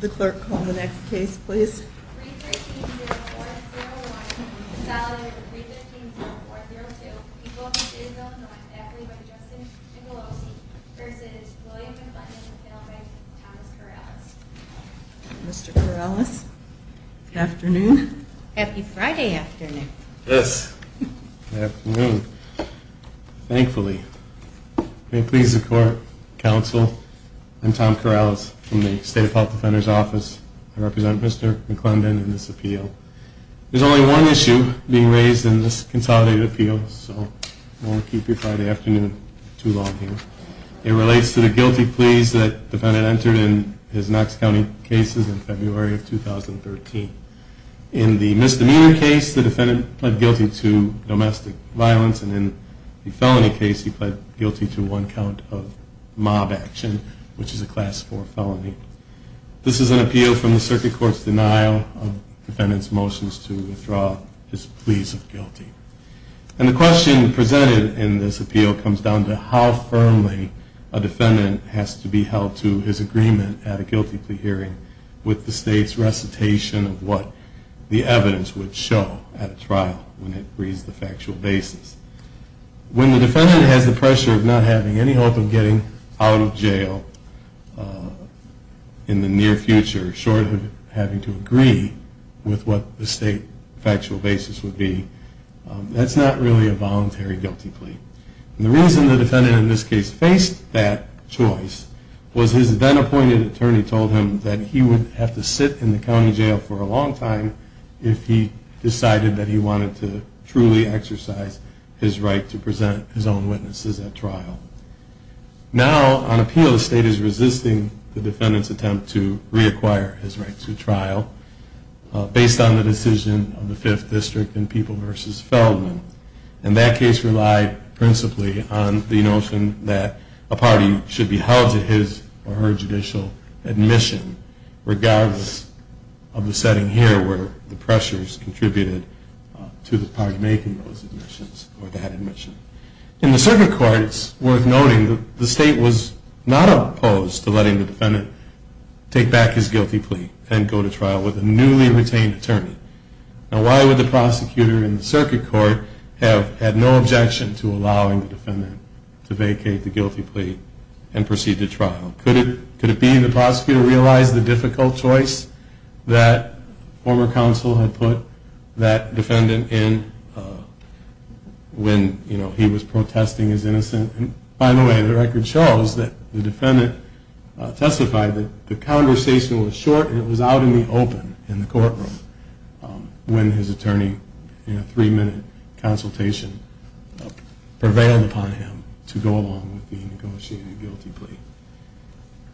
The clerk, call the next case, please. 313-0401, consolidated to 315-0402, people of the state of Illinois, faculty by the name of Justin Jingleosi, v. William McClendon, and family by the name of Thomas Corrales. Mr. Corrales, afternoon. Happy Friday afternoon. Yes, afternoon. Thankfully, may it please the court, I'm Tom Corrales from the State Health Defender's Office. I represent Mr. McClendon in this appeal. There's only one issue being raised in this consolidated appeal, so I won't keep your Friday afternoon too long here. It relates to the guilty pleas that the defendant entered in his Knox County cases in February of 2013. In the misdemeanor case, the defendant pled guilty to domestic violence, and in the felony case, he pled guilty to one count of mob action, which is a Class IV felony. This is an appeal from the circuit court's denial of the defendant's motions to withdraw his pleas of guilty. And the question presented in this appeal comes down to how firmly a defendant has to be held to his agreement at a guilty plea hearing with the state's recitation of what the evidence would show at a trial when it reads the factual basis. When the defendant has the pressure of not having any hope of getting out of jail in the near future, short of having to agree with what the state factual basis would be, that's not really a voluntary guilty plea. And the reason the defendant in this case faced that choice was his then-appointed attorney told him that he would have to sit in the county jail for a long time if he decided that he wanted to truly exercise his right to present his own witnesses at trial. Now, on appeal, the state is resisting the defendant's attempt to reacquire his right to trial based on the decision of the Fifth District in People v. Feldman. And that case relied principally on the notion that a party should be held to his or her judicial admission, regardless of the setting here where the pressures contributed to the party making those admissions or that admission. In the circuit court, it's worth noting that the state was not opposed to letting the defendant take back his guilty plea and go to trial with a newly retained attorney. Now, why would the prosecutor in the circuit court have had no objection to allowing the defendant to vacate the guilty plea and proceed to trial? Could it be the prosecutor realized the difficult choice that former counsel had put that defendant in when he was protesting his innocence? And by the way, the record shows that the defendant testified that the conversation was short and it was out in the open in the courtroom when his attorney, in a three-minute consultation, prevailed upon him to go along with the negotiated guilty plea.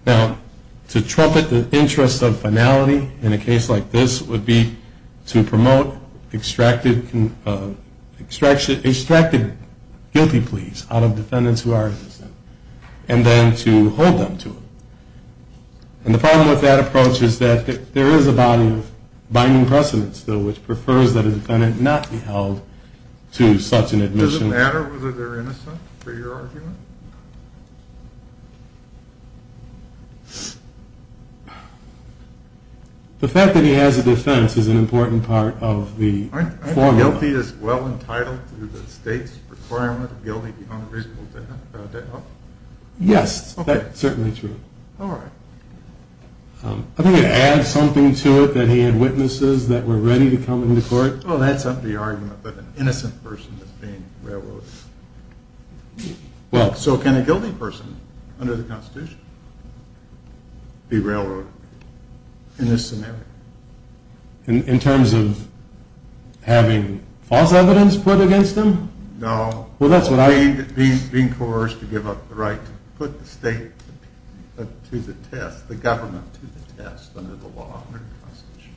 Now, to trumpet the interest of finality in a case like this would be to promote extracted guilty pleas out of defendants who are innocent and then to hold them to it. And the problem with that approach is that there is a binding precedent still which prefers that a defendant not be held to such an admission. Does it matter whether they're innocent for your argument? The fact that he has a defense is an important part of the formula. Aren't guilty as well entitled to the state's requirement of guilty behind reasonable doubt? Yes, that's certainly true. All right. I think it adds something to it that he had witnesses that were ready to come into court. Well, that's not the argument that an innocent person is being railroaded. So can a guilty person under the Constitution be railroaded in this scenario? In terms of having false evidence put against them? No. Well, that's what I mean. Being coerced to give up the right to put the state to the test, the government to the test under the law, under the Constitution.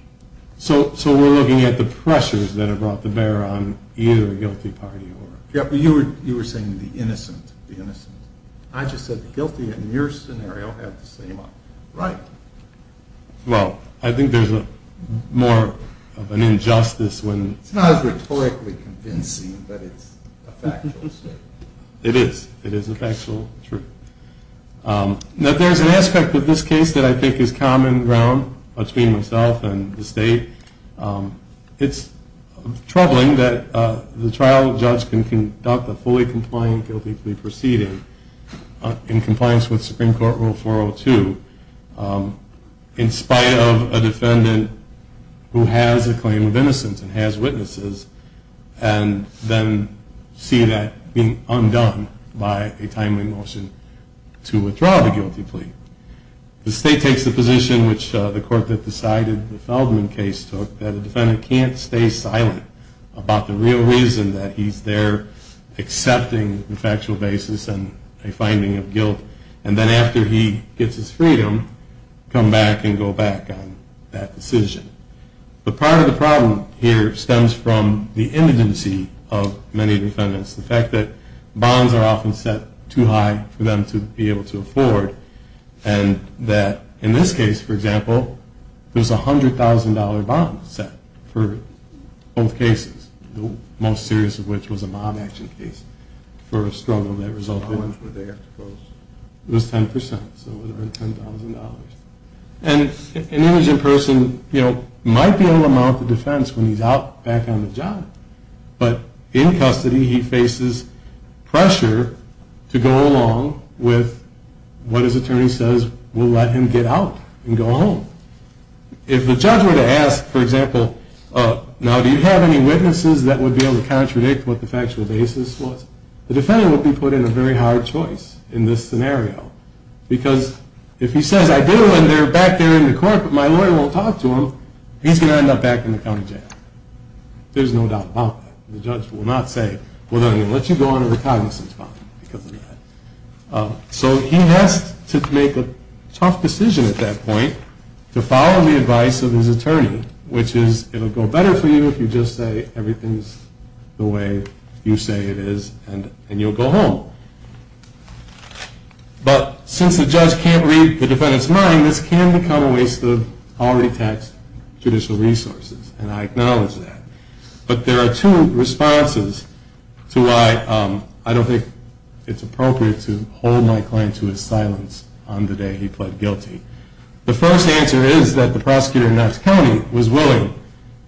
So we're looking at the pressures that have brought the bear on either the guilty party or... Yeah, but you were saying the innocent, the innocent. I just said the guilty in your scenario had the same right. Well, I think there's more of an injustice when... It's not as rhetorically convincing, but it's a factual statement. It is. It is a factual truth. Now, there's an aspect of this case that I think is common ground between myself and the state. It's troubling that the trial judge can conduct a fully compliant guilty plea proceeding in compliance with Supreme Court Rule 402 in spite of a defendant who has a claim of innocence and has witnesses and then see that being undone by a timely motion to withdraw the guilty plea. The state takes the position, which the court that decided the Feldman case took, that a defendant can't stay silent about the real reason that he's there accepting the factual basis and a finding of guilt and then after he gets his freedom, come back and go back on that decision. But part of the problem here stems from the immediacy of many defendants, the fact that bonds are often set too high for them to be able to afford and that in this case, for example, there's a $100,000 bond set for both cases, the most serious of which was a mob action case for a struggle that resulted in... How much would they have to pose? It was 10%, so it would have been $10,000. And an indigent person might be able to mount the defense when he's back on the job, but in custody he faces pressure to go along with what his attorney says will let him get out and go home. If the judge were to ask, for example, now do you have any witnesses that would be able to contradict what the factual basis was, the defendant would be put in a very hard choice in this scenario because if he says I do and they're back there in the court but my lawyer won't talk to him, he's going to end up back in the county jail. There's no doubt about that. The judge will not say, well, they're going to let you go under the cognizance bond because of that. So he has to make a tough decision at that point to follow the advice of his attorney, which is it'll go better for you if you just say everything's the way you say it is and you'll go home. But since the judge can't read the defendant's mind, this can become a waste of already taxed judicial resources, and I acknowledge that. But there are two responses to why I don't think it's appropriate to hold my client to his silence on the day he pled guilty. The first answer is that the prosecutor in Knox County was willing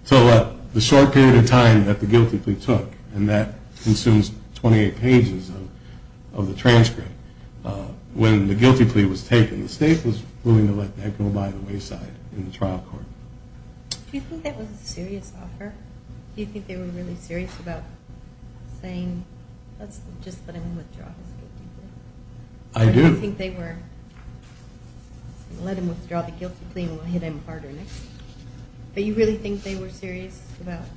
to let the short period of time that the guilty plea took, and that consumes 28 pages of the transcript. When the guilty plea was taken, the state was willing to let that go by the wayside in the trial court. Do you think that was a serious offer? Do you think they were really serious about saying, let's just let him withdraw his guilty plea? I do. Or do you think they were, let him withdraw the guilty plea and we'll hit him harder next time? Do you really think they were serious about it?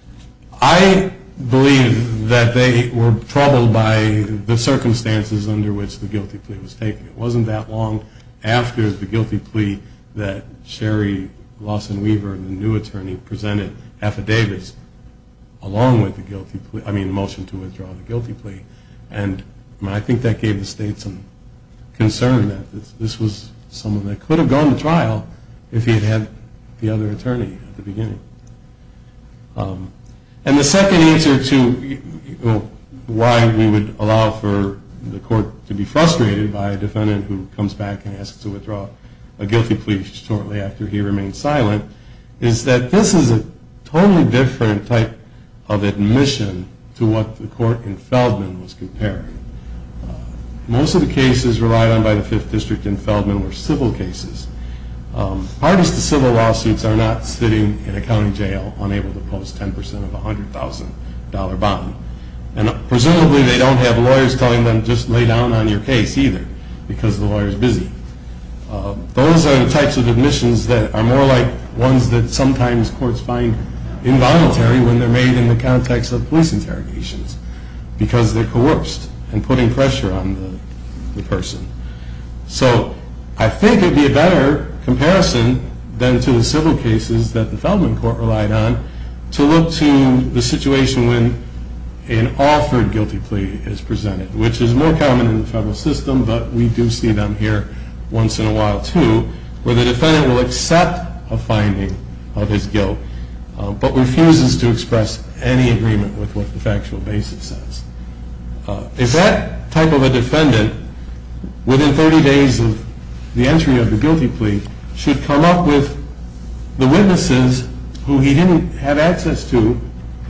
I believe that they were troubled by the circumstances under which the guilty plea was taken. It wasn't that long after the guilty plea that Sherry Lawson Weaver, the new attorney, presented affidavits along with the guilty plea, I mean the motion to withdraw the guilty plea. And I think that gave the state some concern that this was someone that could have gone to trial if he had had the other attorney at the beginning. And the second answer to why we would allow for the court to be frustrated by a defendant who comes back and asks to withdraw a guilty plea shortly after he remains silent is that this is a totally different type of admission to what the court in Feldman was comparing. Most of the cases relied on by the Fifth District in Feldman were civil cases. Part of the civil lawsuits are not sitting in a county jail unable to post 10% of a $100,000 bond. And presumably they don't have lawyers telling them just lay down on your case either because the lawyer is busy. Those are the types of admissions that are more like ones that sometimes courts find involuntary when they're made in the context of police interrogations because they're coerced and putting pressure on the person. So I think it would be a better comparison than to the civil cases that the Feldman court relied on to look to the situation when an offered guilty plea is presented, which is more common in the federal system, but we do see them here once in a while too, where the defendant will accept a finding of his guilt but refuses to express any agreement with what the factual basis says. If that type of a defendant, within 30 days of the entry of the guilty plea, should come up with the witnesses who he didn't have access to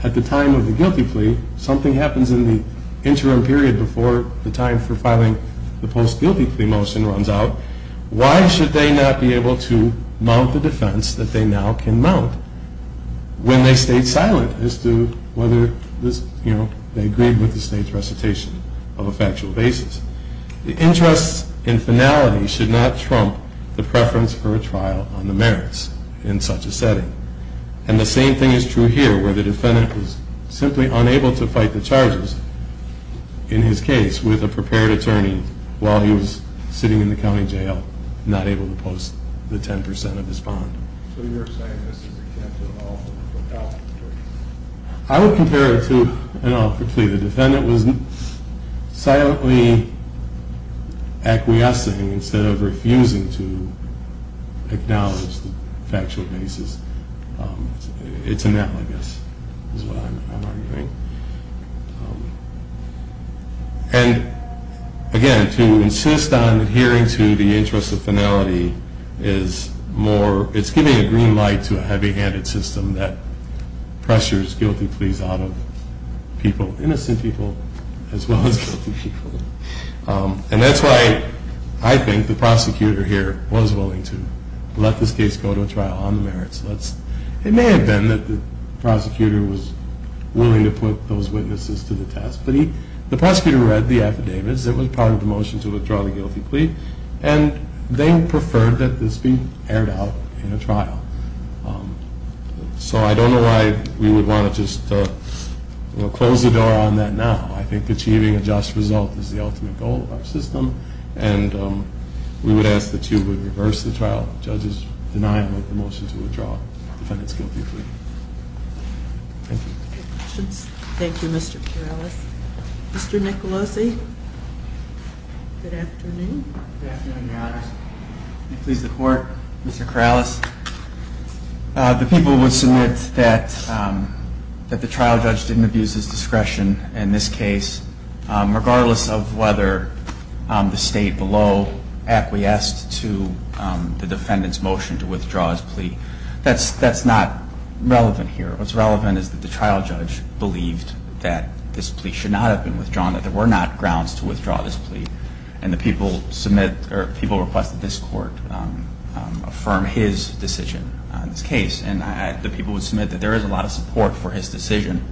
at the time of the guilty plea, something happens in the interim period before the time for filing the post-guilty plea motion runs out, why should they not be able to mount the defense that they now can mount when they stayed silent as to whether they agreed with the state's recitation of a factual basis? The interest in finality should not trump the preference for a trial on the merits in such a setting. And the same thing is true here where the defendant is simply unable to fight the charges in his case with a prepared attorney while he was sitting in the county jail, not able to post the 10% of his bond. I would compare it to an offered plea. The defendant was silently acquiescing instead of refusing to acknowledge the factual basis. It's analogous is what I'm arguing. And again, to insist on adhering to the interest of finality is more, it's giving a green light to a heavy-handed system that pressures guilty pleas out of people, innocent people as well as guilty people. And that's why I think the prosecutor here was willing to let this case go to a trial on the merits. It may have been that the prosecutor was willing to put those witnesses to the test, but the prosecutor read the affidavits that were part of the motion to withdraw the guilty plea, and they preferred that this be aired out in a trial. So I don't know why we would want to just close the door on that now. I think achieving a just result is the ultimate goal of our system, and we would ask that you would reverse the trial judge's denial of the motion to withdraw the defendant's guilty plea. Thank you. Thank you, Mr. Corrales. Mr. Nicolosi? Good afternoon. Good afternoon, Your Honors. Please support Mr. Corrales. The people would submit that the trial judge didn't abuse his discretion in this case, regardless of whether the state below acquiesced to the defendant's motion to withdraw his plea. That's not relevant here. What's relevant is that the trial judge believed that this plea should not have been withdrawn, and the people request that this Court affirm his decision on this case, and the people would submit that there is a lot of support for his decision.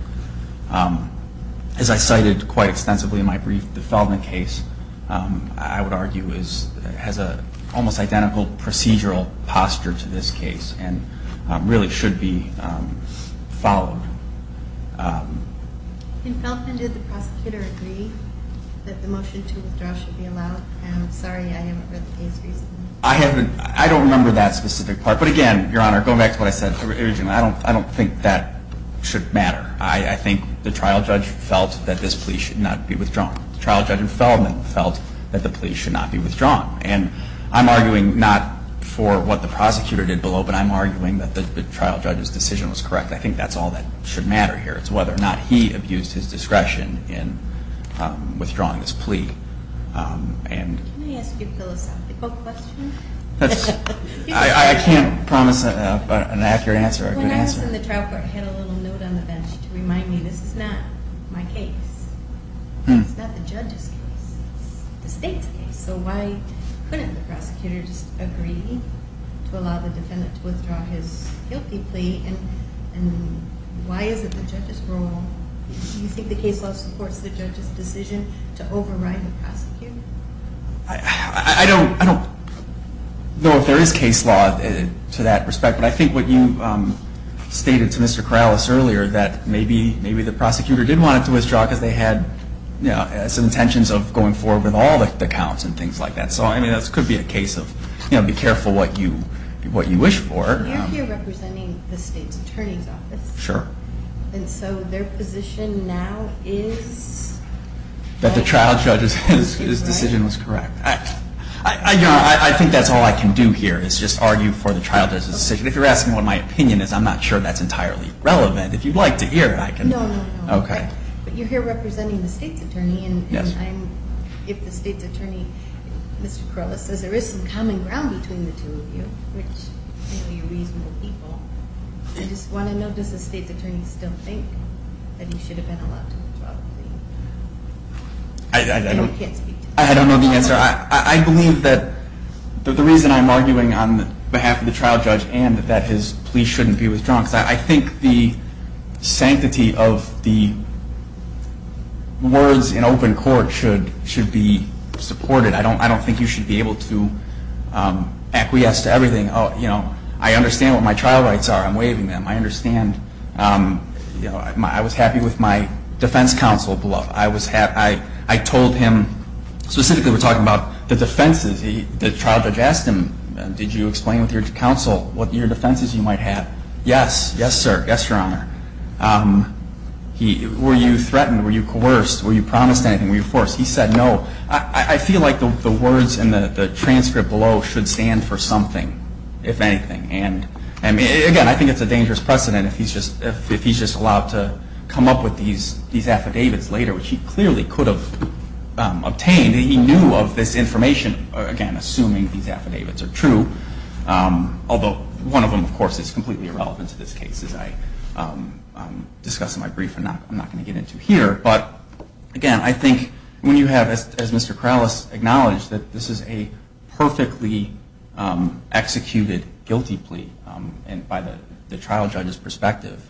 As I cited quite extensively in my brief, the Feldman case, I would argue, has an almost identical procedural posture to this case and really should be followed. In Feldman, did the prosecutor agree that the motion to withdraw should be allowed? I'm sorry, I haven't read the case recently. I haven't. I don't remember that specific part. But again, Your Honor, going back to what I said originally, I don't think that should matter. I think the trial judge felt that this plea should not be withdrawn. The trial judge in Feldman felt that the plea should not be withdrawn. And I'm arguing not for what the prosecutor did below, but I'm arguing that the trial judge's decision was correct. I think that's all that should matter here. It's whether or not he abused his discretion in withdrawing this plea. Can I ask you a philosophical question? I can't promise an accurate answer or a good answer. When I was in the trial court, I had a little note on the bench to remind me this is not my case. It's not the judge's case. It's the State's case. So why couldn't the prosecutor just agree to allow the defendant to withdraw his guilty plea? And why is it the judge's role? Do you think the case law supports the judge's decision to override the prosecutor? I don't know if there is case law to that respect, but I think what you stated to Mr. Corrales earlier that maybe the prosecutor did want it to withdraw because they had some intentions of going forward with all the counts and things like that. So this could be a case of be careful what you wish for. You're here representing the State's Attorney's Office. Sure. And so their position now is that the trial judge's decision was correct. I think that's all I can do here is just argue for the trial judge's decision. If you're asking what my opinion is, I'm not sure that's entirely relevant. If you'd like to hear, I can. No, no, no. Okay. But you're here representing the State's Attorney. Yes. And if the State's Attorney, Mr. Corrales, says there is some common ground between the two of you, which I think we're reasonable people, I just want to know does the State's Attorney still think that he should have been allowed to withdraw the plea? I don't know the answer. I believe that the reason I'm arguing on behalf of the trial judge and that his plea shouldn't be withdrawn is because I think the sanctity of the words in open court should be supported. I don't think you should be able to acquiesce to everything. I understand what my trial rights are. I'm waiving them. I understand. I was happy with my defense counsel, beloved. I told him, specifically we're talking about the defenses. The trial judge asked him, did you explain with your counsel what your defenses you might have? Yes. Yes, sir. Yes, Your Honor. Were you threatened? Were you coerced? Were you promised anything? Were you forced? He said no. I feel like the words in the transcript below should stand for something, if anything. And, again, I think it's a dangerous precedent if he's just allowed to come up with these affidavits later, which he clearly could have obtained. He knew of this information, again, assuming these affidavits are true, although one of them, of course, is completely irrelevant to this case as I discuss in my brief and I'm not going to get into here. But, again, I think when you have, as Mr. Kralis acknowledged, that this is a perfectly executed guilty plea by the trial judge's perspective,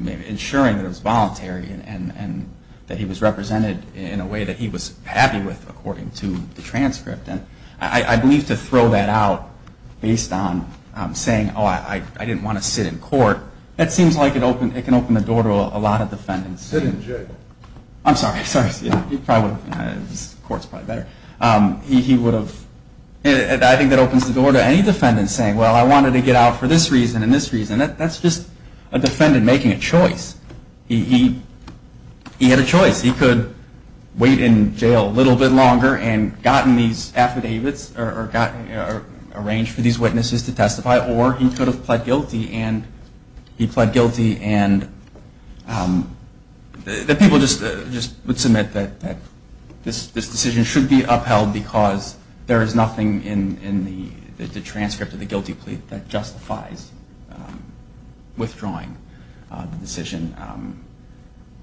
ensuring that it was voluntary and that he was represented in a way that he was happy with, according to the transcript. And I believe to throw that out based on saying, oh, I didn't want to sit in court, that seems like it can open the door to a lot of defendants. Sit in jail. I'm sorry. He probably would have. The court's probably better. He would have. I think that opens the door to any defendant saying, well, I wanted to get out for this reason and this reason. That's just a defendant making a choice. He had a choice. He could wait in jail a little bit longer and gotten these affidavits or arrange for these witnesses to testify, or he could have pled guilty and he pled guilty and the people just would submit that this decision should be upheld because there is nothing in the transcript of the guilty plea that justifies withdrawing the decision.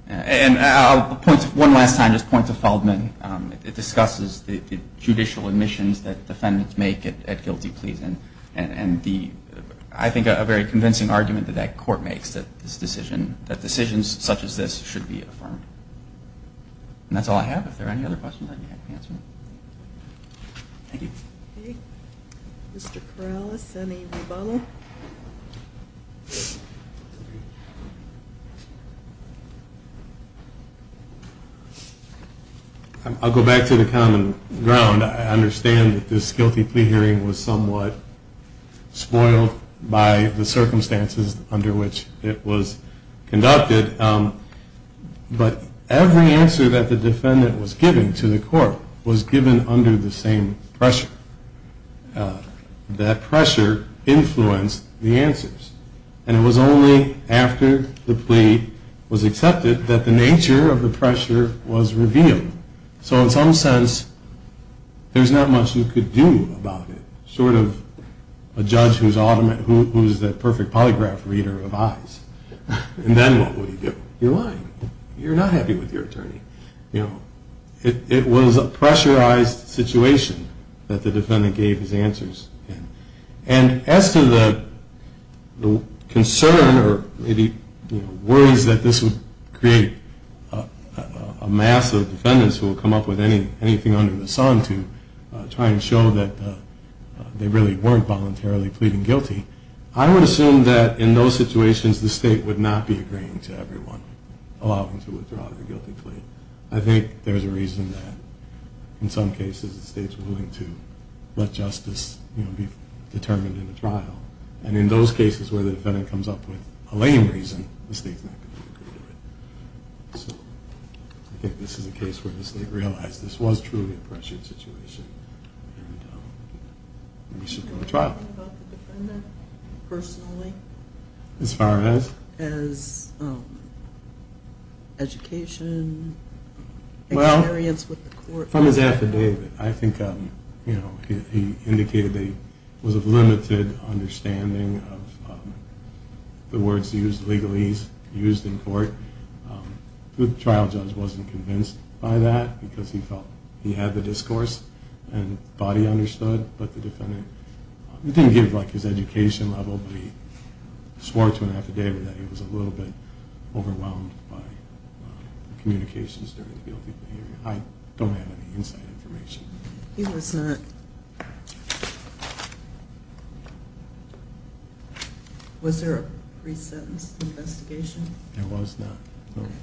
And one last time, just points of Feldman. It discusses the judicial admissions that defendants make at guilty pleas. And I think a very convincing argument that that court makes that decisions such as this should be affirmed. And that's all I have. If there are any other questions, I'd be happy to answer them. Thank you. Mr. Corrales, any rebuttal? I'll go back to the common ground. I understand that this guilty plea hearing was somewhat spoiled by the circumstances under which it was conducted. But every answer that the defendant was giving to the court was given under the same pressure. That pressure influenced the answers. And it was only after the plea was accepted that the nature of the pressure was revealed. So in some sense, there's not much you could do about it, short of a judge who's the perfect polygraph reader of eyes. And then what would you do? You're lying. You're not happy with your attorney. It was a pressurized situation that the defendant gave his answers in. And as to the concern or worries that this would create a mass of defendants who would come up with anything under the sun to try and show that they really weren't voluntarily pleading guilty, I would assume that in those situations the state would not be agreeing to everyone allowing to withdraw their guilty plea. I think there's a reason that in some cases the state's willing to let justice be determined in a trial. And in those cases where the defendant comes up with a lame reason, the state's not going to agree to it. So I think this is a case where the state realized this was truly a pressured situation and we should go to trial. Do you have anything about the defendant personally? As far as? As education, experience with the court? Well, from his affidavit, I think he indicated that he was of limited understanding of the words used legally, used in court. The trial judge wasn't convinced by that because he felt he had the discourse and thought he understood, but the defendant didn't give his education level, but he swore to an affidavit that he was a little bit overwhelmed by communications during the guilty plea. I don't have any inside information. He was not. Was there a pre-sentence investigation? There was not.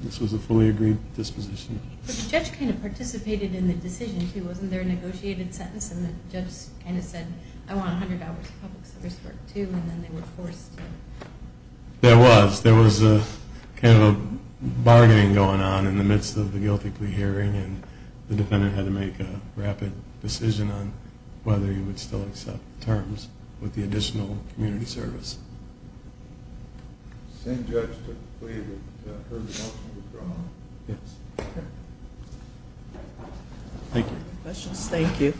This was a fully agreed disposition. But the judge kind of participated in the decision, too. Wasn't there a negotiated sentence and the judge kind of said, I want $100 of public service work, too, and then they were forced to? There was. There was kind of a bargaining going on in the midst of the guilty plea hearing and the defendant had to make a rapid decision on whether he would still accept terms with the additional community service. The same judge took the plea that her motion was drawn. Yes. Okay. Thank you. Questions? Thank you.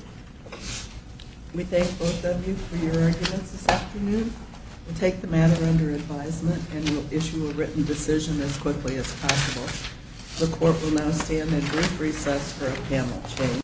We thank both of you for your arguments this afternoon. We'll take the matter under advisement and we'll issue a written decision as quickly as possible. The court will now stand in brief recess for a panel change.